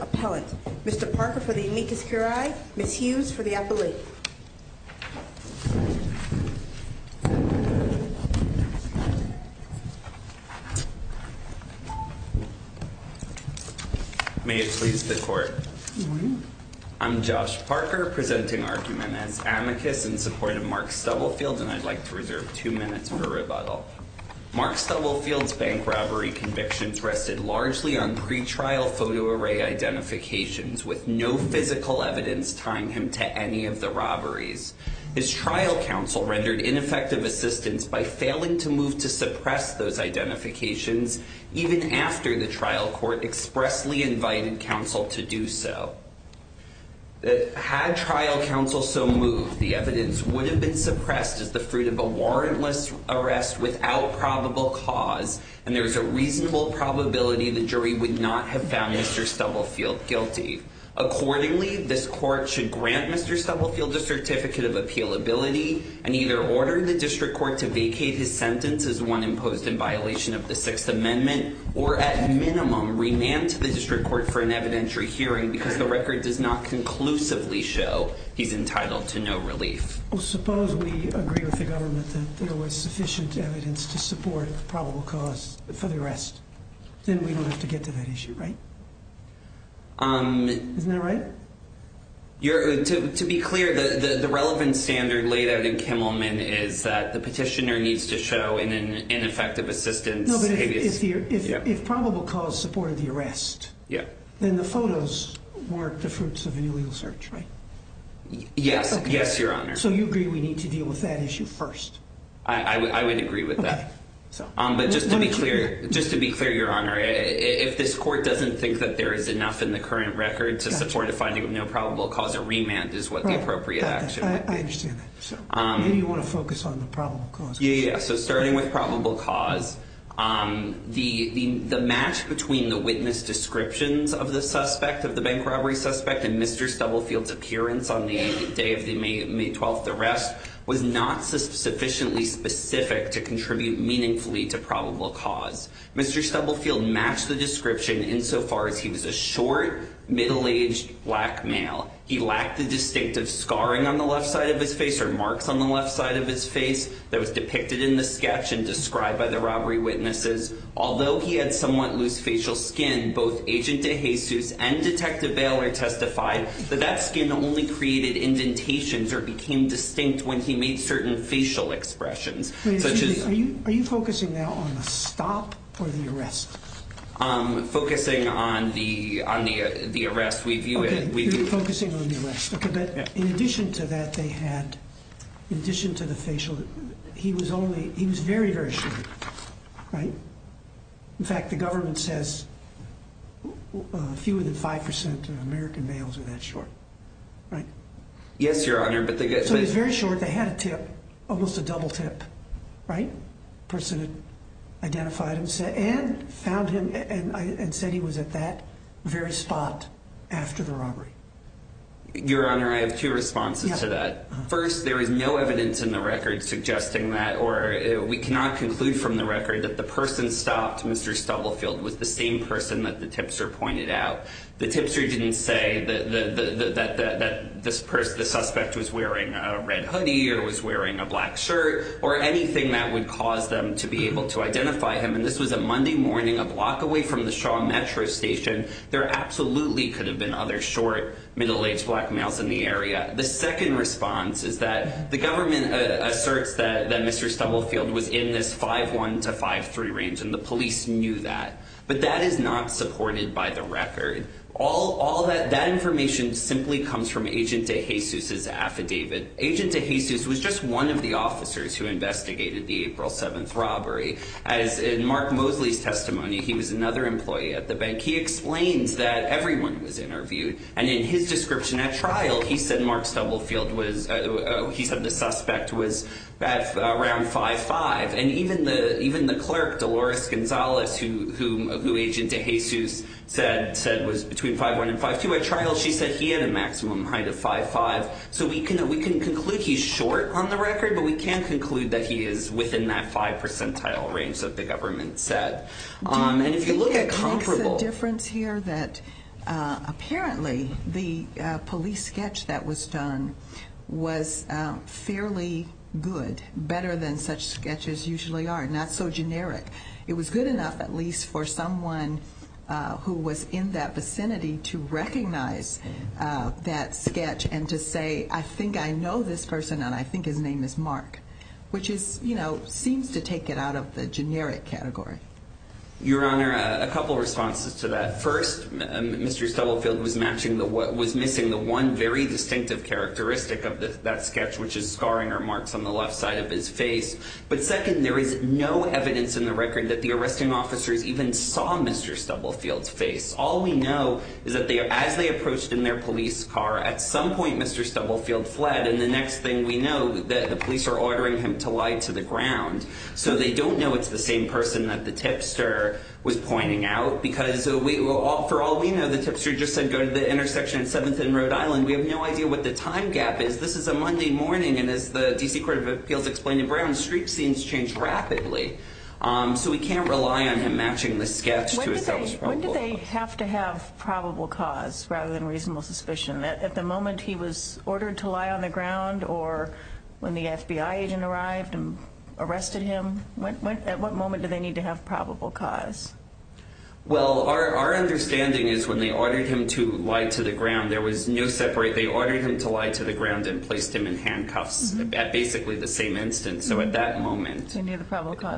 Appellant. Mr. Parker for the amicus curiae, Ms. Hughes for the appellate. May it please the court. I'm Josh Parker presenting argument as amicus in support of Mark Stubblefield and I'd like to reserve two minutes for rebuttal. Mark Stubblefield's bank robbery convictions rested largely on pre-trial photo array identifications with no physical evidence tying him to any of the robberies. His trial counsel rendered ineffective assistance by failing to move to suppress those identifications even after the trial court expressly invited counsel to do so. Had trial counsel so moved, the evidence would have been suppressed as the fruit of a warrantless arrest without probable cause and there's a reasonable probability the jury would not have found Mr. Stubblefield guilty. Accordingly, this court should grant Mr. Stubblefield a certificate of appealability and either order the district court to vacate his sentence as one imposed in violation of the Sixth Amendment or at minimum remand to the district court for an evidentiary hearing because the record does not conclusively show he's entitled to no relief. Suppose we agree with the government that there was sufficient evidence to support probable cause for the arrest. Then we don't have to get to that issue, right? Isn't that right? To be clear, the relevant standard laid out in Kimmelman is that the petitioner needs to show an ineffective assistance. No, but if probable cause supported the arrest, then the photos weren't the fruits of an illegal search, right? Yes, your honor. So you agree we need to deal with that issue first? I would agree with that. But just to be clear, your honor, if this court doesn't think that there is enough in the current record to support a finding of no probable cause, a remand is what the appropriate action would be. I understand that. Maybe you want to focus on the probable cause. Yeah, so starting with probable cause, the match between the witness descriptions of the suspect, of the bank robbery suspect and Mr. Stubblefield's appearance on the day of the May 12th arrest was not sufficiently specific to contribute meaningfully to probable cause. Mr. Stubblefield matched the description insofar as he was a short, middle-aged black male. He lacked the distinctive scarring on the left side of his face or marks on the left side of his face that was depicted in the sketch and described by the robbery witnesses. Although he had somewhat loose facial skin, both Agent DeJesus and Detective Baylor testified that that skin only created indentations or became distinct when he made certain facial expressions. Wait a second. Are you focusing now on the stop or the arrest? Focusing on the arrest. Okay, you're focusing on the arrest. Okay, but in addition to that, they had, in addition to the facial, he was only, he was very, very short, right? In fact, the government says fewer than 5% of American males are that short, right? Yes, Your Honor. So he's very short. They had a tip, almost a double tip, right? The person who identified him said, and found he was at that very spot after the robbery. Your Honor, I have two responses to that. First, there is no evidence in the record suggesting that, or we cannot conclude from the record, that the person stopped, Mr. Stubblefield, was the same person that the tipster pointed out. The tipster didn't say that the suspect was wearing a red hoodie or was wearing a black shirt or anything that would cause them to be able to identify him. And this was a dangerous station. There absolutely could have been other short, middle-aged black males in the area. The second response is that the government asserts that Mr. Stubblefield was in this 5'1 to 5'3 range and the police knew that. But that is not supported by the record. That information simply comes from Agent DeJesus's affidavit. Agent DeJesus was just one of the officers who investigated the April 7th robbery. As in Mark Mosley's testimony, he was another employee at the bank. He explains that everyone was interviewed. And in his description at trial, he said Mark Stubblefield was, he said the suspect was around 5'5". And even the clerk, Dolores Gonzalez, who Agent DeJesus said was between 5'1 and 5'2", at trial she said he had a maximum height of 5'5". So we can conclude he's short on the record, but we can't conclude that he is within that 5 percentile range that the government said. And if you look at comparable... It makes a difference here that apparently the police sketch that was done was fairly good, better than such sketches usually are, not so generic. It was good enough at least for someone who was in that vicinity to recognize that sketch and to say, I think I know this person and I think his name is Mark, which is, you know, seems to take it out of the sketch. Your Honor, a couple of responses to that. First, Mr. Stubblefield was matching the, was missing the one very distinctive characteristic of that sketch, which is scarring or marks on the left side of his face. But second, there is no evidence in the record that the arresting officers even saw Mr. Stubblefield's face. All we know is that they, as they approached in their police car, at some point Mr. Stubblefield fled. And the next thing we know, the police are ordering him to lie to the ground. So they don't know it's the same person that the tipster was pointing out, because for all we know, the tipster just said go to the intersection at 7th and Rhode Island. We have no idea what the time gap is. This is a Monday morning and as the D.C. Court of Appeals explained to Brown, street scenes change rapidly. So we can't rely on him matching the sketch to his fellow Stubblefield. When did they have to have probable cause rather than reasonable suspicion? At the moment he was ordered to lie on the ground or when the FBI agent arrived and arrested him? At what moment did they need to have probable cause? Well, our understanding is when they ordered him to lie to the ground, there was no separate. They ordered him to lie to the ground and placed him in handcuffs at basically the same instance. So at that moment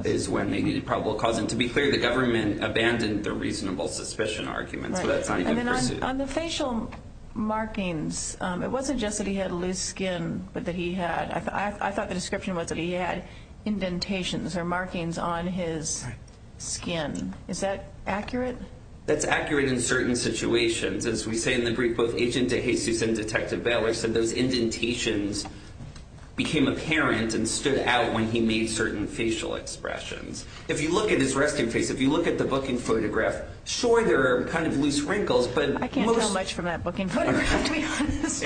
is when they needed probable cause. And to be clear, the government abandoned the reasonable suspicion argument. So that's not a good pursuit. On the facial markings, it wasn't just that he had loose skin, but that he had, I thought on his skin. Is that accurate? That's accurate in certain situations. As we say in the brief, both Agent DeJesus and Detective Baylor said those indentations became apparent and stood out when he made certain facial expressions. If you look at his resting face, if you look at the booking photograph, sure there are kind of loose wrinkles, but most... I can't tell much from that booking photograph, to be honest.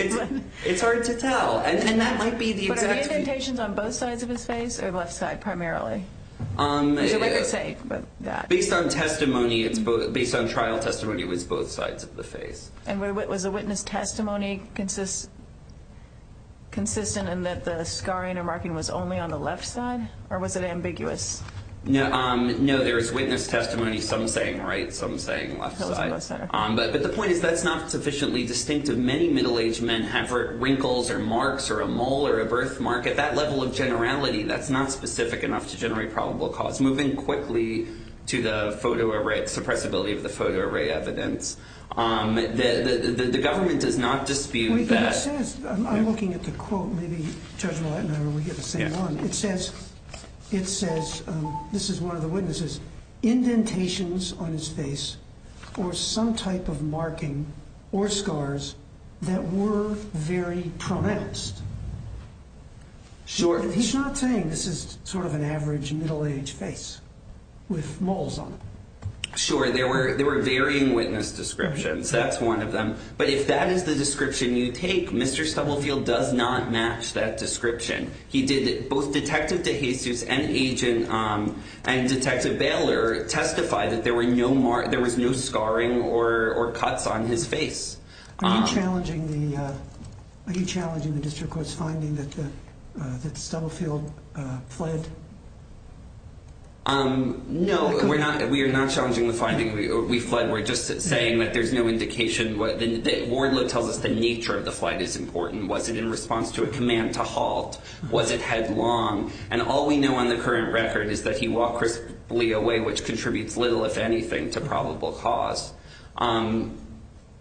It's hard to tell. And that might be the exact... Indentations on both sides of his face or left side primarily? Is there a way to say that? Based on testimony, based on trial testimony, it was both sides of the face. And was the witness testimony consistent in that the scarring and marking was only on the left side? Or was it ambiguous? No, there was witness testimony, some saying right, some saying left side, but the point is that's not sufficiently distinctive. Many middle-aged men have wrinkles or marks or a mole or a birthmark. At that level of generality, that's not specific enough to generate probable cause. Moving quickly to the photoarray, suppressibility of the photoarray evidence, the government does not dispute that... But it says, I'm looking at the quote, maybe Judge Rollett and I will get the same one. It says, this is one of the witnesses, indentations on his face or some type of marking or scars that were very pronounced. Sure. He's not saying this is sort of an average middle-aged face with moles on it. Sure. There were varying witness descriptions. That's one of them. But if that is the description you take, Mr. Stubblefield does not match that description. He did... Both Detective DeJesus and Agent... And Detective Baylor testified that there were no... There was no scarring or cuts on his face. Are you challenging the district court's finding that Stubblefield fled? No, we're not. We are not challenging the finding that we fled. We're just saying that there's no indication. Wardlow tells us the nature of the flight is important. Was it in response to a command to halt? Was it headlong? And all we know on the current record is that he walked crisply away, which contributes little, if anything, to probable cause.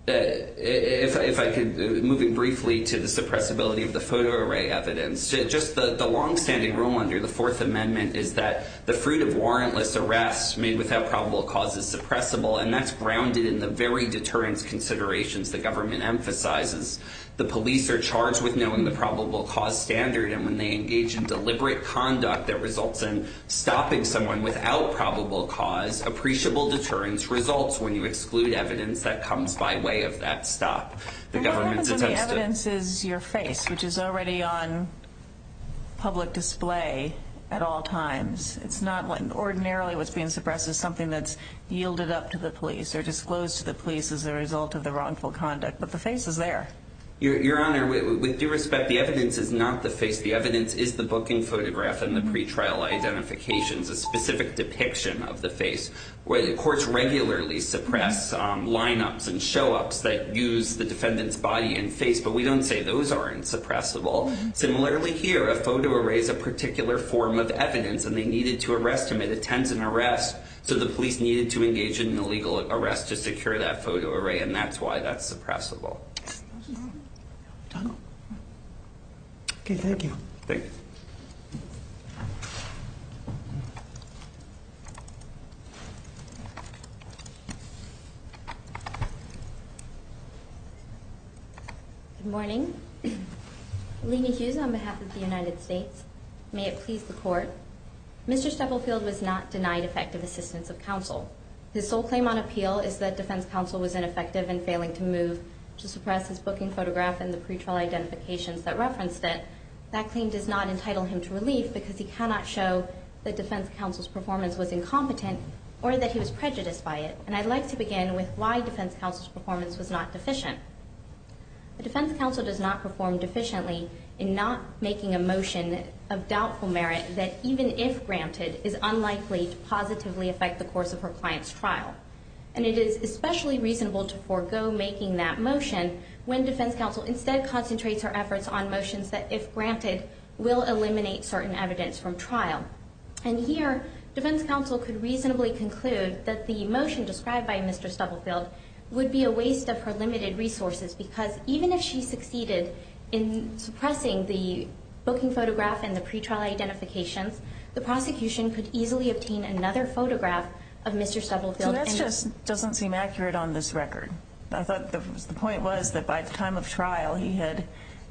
If I could... Moving briefly to the suppressibility of the photo array evidence. Just the long-standing rule under the Fourth Amendment is that the fruit of warrantless arrests made without probable cause is suppressible, and that's grounded in the very deterrence considerations the government emphasizes. The police are charged with knowing the probable cause standard, and when they engage in deliberate conduct that results in stopping someone without probable cause, appreciable deterrence results when you exclude evidence that comes by way of that stop. The government's attested... And what happens when the evidence is your face, which is already on public display at all times? It's not... Ordinarily, what's being suppressed is something that's yielded up to the police or disclosed to the police as a result of the wrongful conduct, but the face is there. Your Honor, with due respect, the evidence is not the face. The evidence is the booking photograph and the pretrial identifications, a specific depiction of the face. Courts regularly suppress line-ups and show-ups that use the defendant's body and face, but we don't say those aren't suppressible. Similarly here, a photo array is a particular form of evidence and they needed to arrest him. It attends an arrest, so the police needed to engage in an illegal arrest to secure that photo array, and that's why that's suppressible. Okay, thank you. Thank you. Good morning. Lina Hughes on behalf of the United States. May it please the court, Mr. DeFranco, the sole claim on appeal is that defense counsel was ineffective in failing to move to suppress his booking photograph and the pretrial identifications that referenced it. That claim does not entitle him to relief because he cannot show that defense counsel's performance was incompetent or that he was prejudiced by it, and I'd like to begin with why defense counsel's performance was not deficient. The defense counsel does not perform deficiently in not making a motion of doubtful merit that, even if granted, is unlikely to affect the course of her client's trial. And it is especially reasonable to forego making that motion when defense counsel instead concentrates her efforts on motions that, if granted, will eliminate certain evidence from trial. And here, defense counsel could reasonably conclude that the motion described by Mr. Stubblefield would be a waste of her limited resources because, even if she succeeded in suppressing the booking photograph and the other photograph of Mr. Stubblefield... So that just doesn't seem accurate on this record. I thought the point was that by the time of trial he had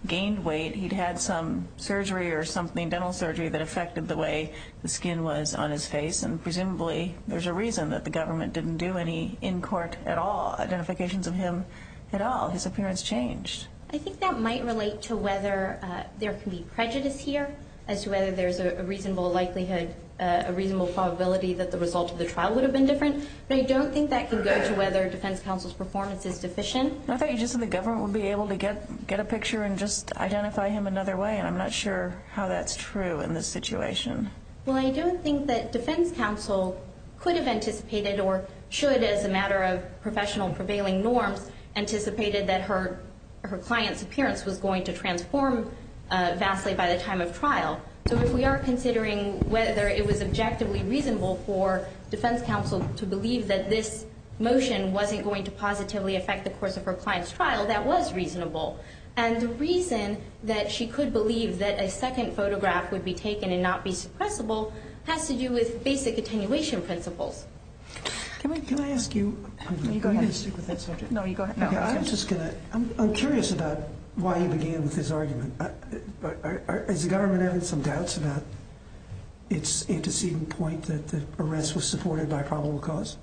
gained weight, he'd had some surgery or something, dental surgery, that affected the way the skin was on his face, and presumably there's a reason that the government didn't do any in court at all identifications of him at all. His appearance changed. I think that might relate to whether there can be prejudice here as to whether there's a reasonable likelihood, a reasonable probability that the result of the trial would have been different. But I don't think that can go to whether defense counsel's performance is deficient. I thought you just said the government would be able to get a picture and just identify him another way, and I'm not sure how that's true in this situation. Well, I do think that defense counsel could have anticipated or should, as a matter of professional prevailing norms, anticipated that her client's appearance was going to transform vastly by the time of trial. So if we are considering whether it was objectively reasonable for defense counsel to believe that this motion wasn't going to positively affect the course of her client's trial, that was reasonable. And the reason that she could believe that a second photograph would be taken and not be suppressible has to do with basic attenuation principles. Can I ask you to stick with that subject? No, you go ahead. I'm curious about why you began with this about its antecedent point that the arrest was supported by probable cause?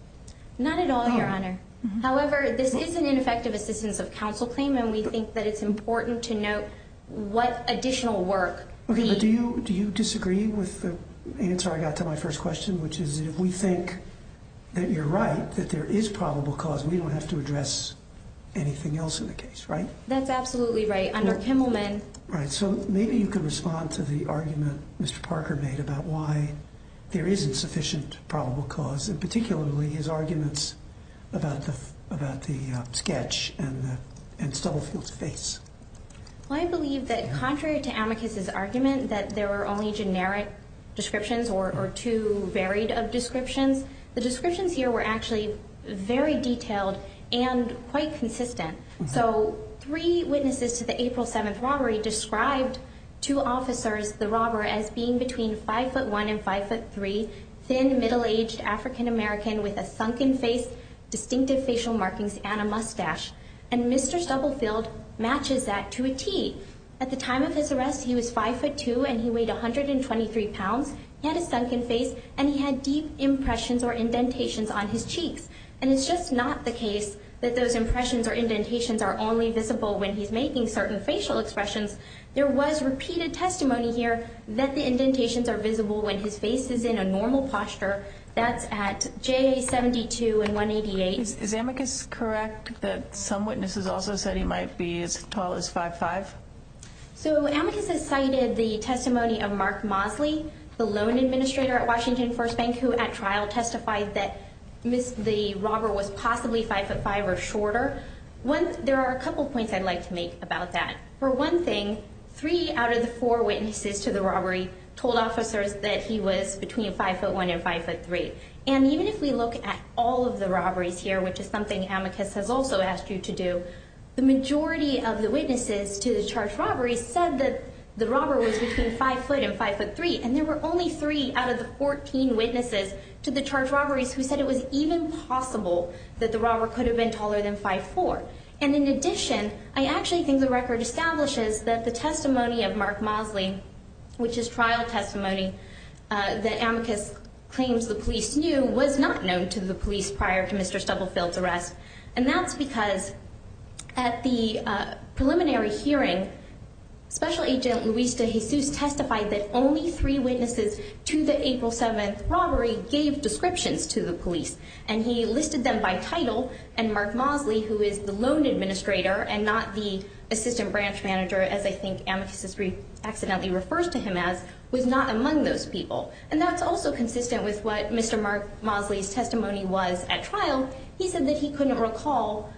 Not at all, Your Honor. However, this is an ineffective assistance of counsel claim, and we think that it's important to note what additional work. Okay, but do you disagree with the answer I got to my first question, which is if we think that you're right, that there is probable cause, we don't have to address anything else in the case, right? That's absolutely right. All right, so maybe you can respond to the argument Mr. Parker made about why there isn't sufficient probable cause, and particularly his arguments about the sketch and Stubblefield's face. Well, I believe that contrary to Amicus's argument that there were only generic descriptions or too varied of descriptions, the descriptions here were actually very described to officers, the robber as being between 5'1 and 5'3, thin, middle-aged African-American with a sunken face, distinctive facial markings, and a mustache. And Mr. Stubblefield matches that to a T. At the time of his arrest, he was 5'2 and he weighed 123 pounds, he had a sunken face, and he had deep impressions or indentations on his cheeks. And it's just not the case that those impressions or indentations are only facial expressions. There was repeated testimony here that the indentations are visible when his face is in a normal posture. That's at J.A. 72 and 188. Is Amicus correct that some witnesses also said he might be as tall as 5'5? So Amicus has cited the testimony of Mark Mosley, the loan administrator at Washington First Bank, who at trial testified that the robber was possibly 5'5 or shorter. There are a couple points I'd like to make about that. For one thing, three out of the four witnesses to the robbery told officers that he was between 5'1 and 5'3. And even if we look at all of the robberies here, which is something Amicus has also asked you to do, the majority of the witnesses to the charged robberies said that the robber was between 5'5 and 5'3. And there were only three out of the 14 witnesses to the charged robberies who said it was even possible that the robber could have been taller than 5'4. And in addition, I actually think the record establishes that the testimony of Mark Mosley, which is trial testimony that Amicus claims the police knew, was not known to the police prior to Mr. Stubblefield's arrest. And that's because at the preliminary hearing, Special Agent Luis de Jesus testified that only three witnesses to the April 7th robbery gave descriptions to the police. And he listed them by title. And Mark Mosley, who is the loan administrator and not the assistant branch manager, as I think Amicus accidentally refers to him as, was not among those people. And that's also consistent with what Mr. Mark Mosley's testimony was at trial. He said that he couldn't And on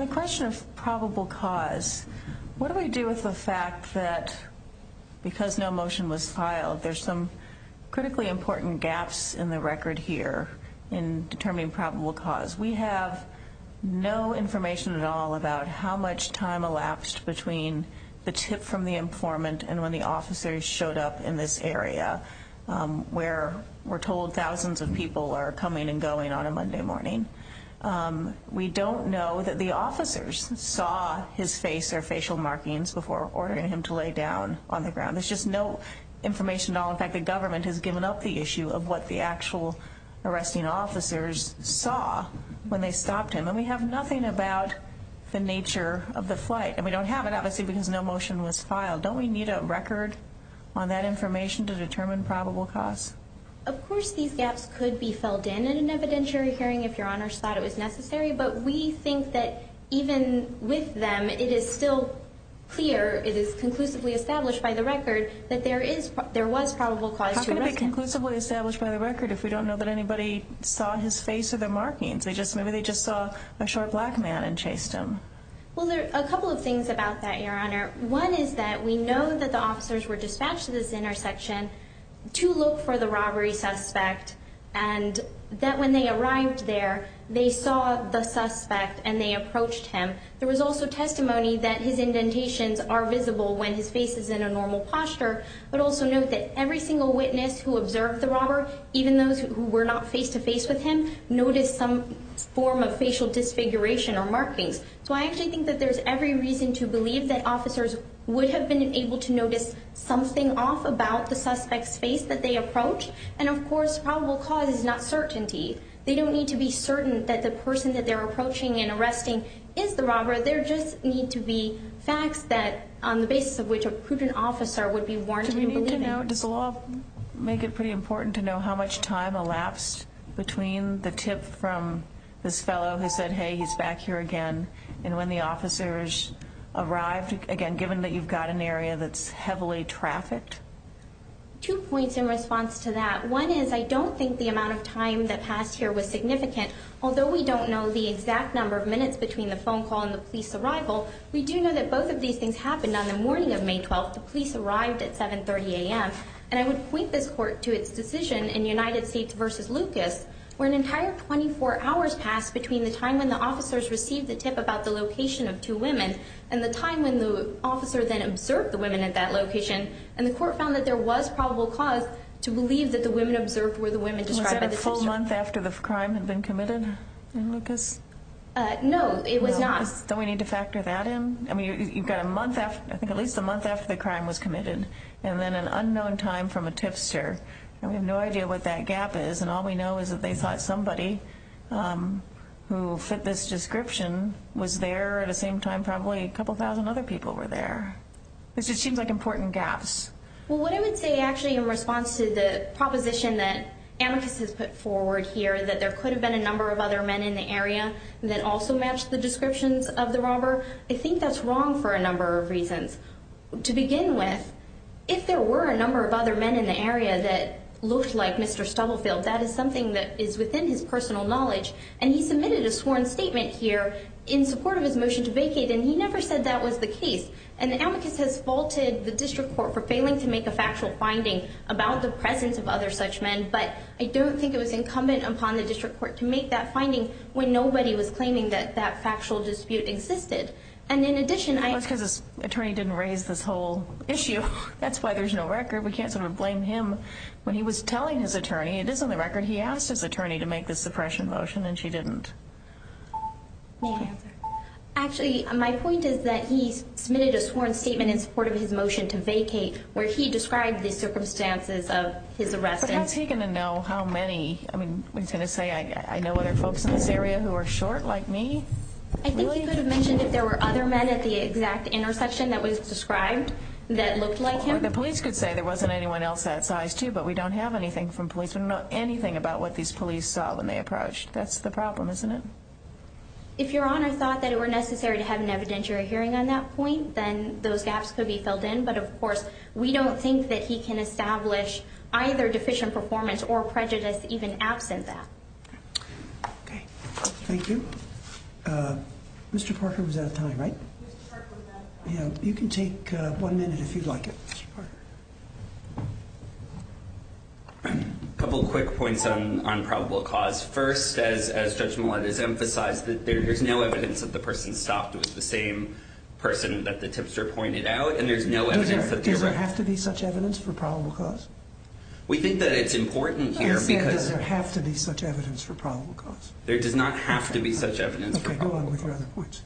the question of probable cause, what do we do with the fact that because no motion was filed, there's some critically important gaps in the record here in determining probable cause? We have no information at all about how much time elapsed between the tip from the informant and when the officers showed up in this area, where we're told thousands of people are coming and going on a Monday morning. We don't know that the officers saw his face or facial markings before ordering him to lay down on the ground. There's just no information at all. In fact, the government has given up the issue of what the actual arresting officers saw when they stopped him. And we have nothing about the nature of the flight. And we don't have it, obviously, because no motion was filed. Don't we need a record on that information to determine probable cause? Of course, these gaps could be filled in an evidentiary hearing if Your Honor's thought it was necessary. But we think that even with them, it is still clear, it is conclusively established by the record that there is, there was probable cause to arrest him. How can it be conclusively established by the record if we don't know that anybody saw his face or the markings? Maybe they just saw a short black man and chased him. Well, there are a couple of things about that, Your Honor. One is that we know that the officers were dispatched to this intersection to look for the robbery suspect, and that when they arrived there, they saw the suspect and they approached him. There was also testimony that his indentations are visible when his face is in a normal posture. But also note that every single witness who observed the robber, even those who were not face-to-face with him, noticed some form of facial disfiguration or markings. So I actually think that there's every reason to believe that officers would have been able to notice something off about the suspect's face that they approached. And of course, probable cause is not certainty. They don't need to be certain that the person that they're approaching and arresting is the robber. There just need to be facts that, on the basis of which a prudent officer would be warranted in believing. Does the law make it pretty important to know how much time elapsed between the tip from this fellow who said, hey, he's back here again and when the officers arrived? Again, given that you've got an area that's heavily trafficked? Two points in response to that. One is I don't think the amount of time that passed here was significant. Although we don't know the exact number of minutes between the phone call and the police arrival, we do know that both of these things happened on the morning of May 12th. The police arrived at 7.30 a.m. And I would point this court to its decision in United States v. Lucas, where an entire 24 hours passed between the time when the officer spoke about the location of two women and the time when the officer then observed the women at that location. And the court found that there was probable cause to believe that the women observed were the women described in the tipster. Was that a full month after the crime had been committed in Lucas? No, it was not. Don't we need to factor that in? I mean, you've got a month after, I think at least a month after the crime was committed and then an unknown time from a tipster. And we have no idea what that gap is. And all we know is that they thought somebody who fit this description was there at the same time probably a couple thousand other people were there. It just seems like important gaps. Well, what I would say actually in response to the proposition that Amicus has put forward here, that there could have been a number of other men in the area that also matched the descriptions of the robber, I think that's wrong for a number of reasons. To begin with, if there were a number of other men in the area that looked like Mr. Stubblefield, that is something that is within his personal knowledge. And he submitted a sworn statement here in support of his motion to vacate. And he never said that was the case. And Amicus has faulted the district court for failing to make a factual finding about the presence of other such men. But I don't think it was incumbent upon the district court to make that finding when nobody was claiming that that factual dispute existed. And in addition, that's because his attorney didn't raise this whole issue. That's why there's no record. We can't sort of blame him when he was telling his attorney. It is on the record he asked his attorney to make this suppression motion, and she didn't. Actually, my point is that he submitted a sworn statement in support of his motion to vacate, where he described the circumstances of his arrest. But how is he going to know how many? I mean, is he going to say, I know other folks in this area who are short like me? I think he could have mentioned if there were other men at the exact intersection that was described that looked like him. The police could say there wasn't anyone else that size, too, but we don't have anything from police. We don't know anything about what these police saw when they approached. That's the problem, isn't it? If your Honor thought that it were necessary to have an evidentiary hearing on that point, then those gaps could be filled in. But of course, we don't think that he can establish either deficient performance or prejudice even absent that. Thank you. Mr. Parker was out of time, right? Mr. Parker was out of time. You can take one minute if you'd like it, Mr. Parker. A couple quick points on probable cause. First, as Judge Millett has emphasized, there's no evidence that the person stopped was the same person that the tipster pointed out. Does there have to be such evidence for probable cause? We think that it's important here because... I said does there have to be such evidence for probable cause. There does not have to be such evidence for probable cause. Okay, go on with your other points.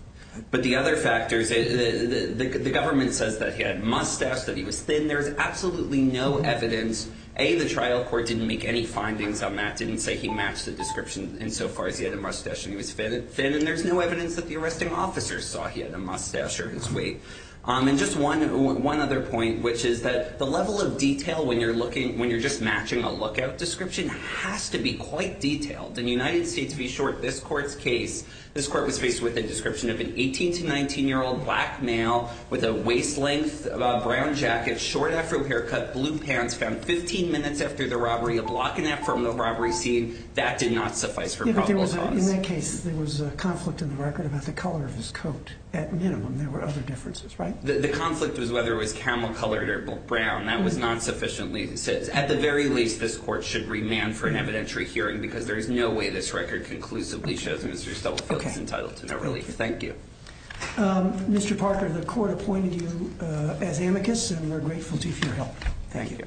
But the other factors... The government says that he had a mustache, that he was thin. There's absolutely no evidence. A, the trial court didn't make any findings on that, didn't say he matched the description insofar as he had a mustache and he was thin. And there's no evidence that the arresting officers saw he had a mustache or his weight. And just one other point, which is that the level of detail when you're just matching a lookout description has to be quite detailed. In the United States, to be short, this court's case, this court was faced with a description of an 18 to 19-year-old black male with a waist-length brown jacket, short afro haircut, blue pants, found 15 minutes after the robbery, a block and a half from the robbery scene. That did not suffice for probable cause. In that case, there was a conflict in the record about the color of his coat. At minimum, there were other differences, right? The conflict was whether it was camel colored or brown. That was not sufficiently... At the very least, this court should remand for an evidentiary hearing because there is no way this record conclusively shows Mr. Stubblefield is entitled to no relief. Thank you. Mr. Parker, the court appointed you as amicus and we're grateful to you for your help. Thank you.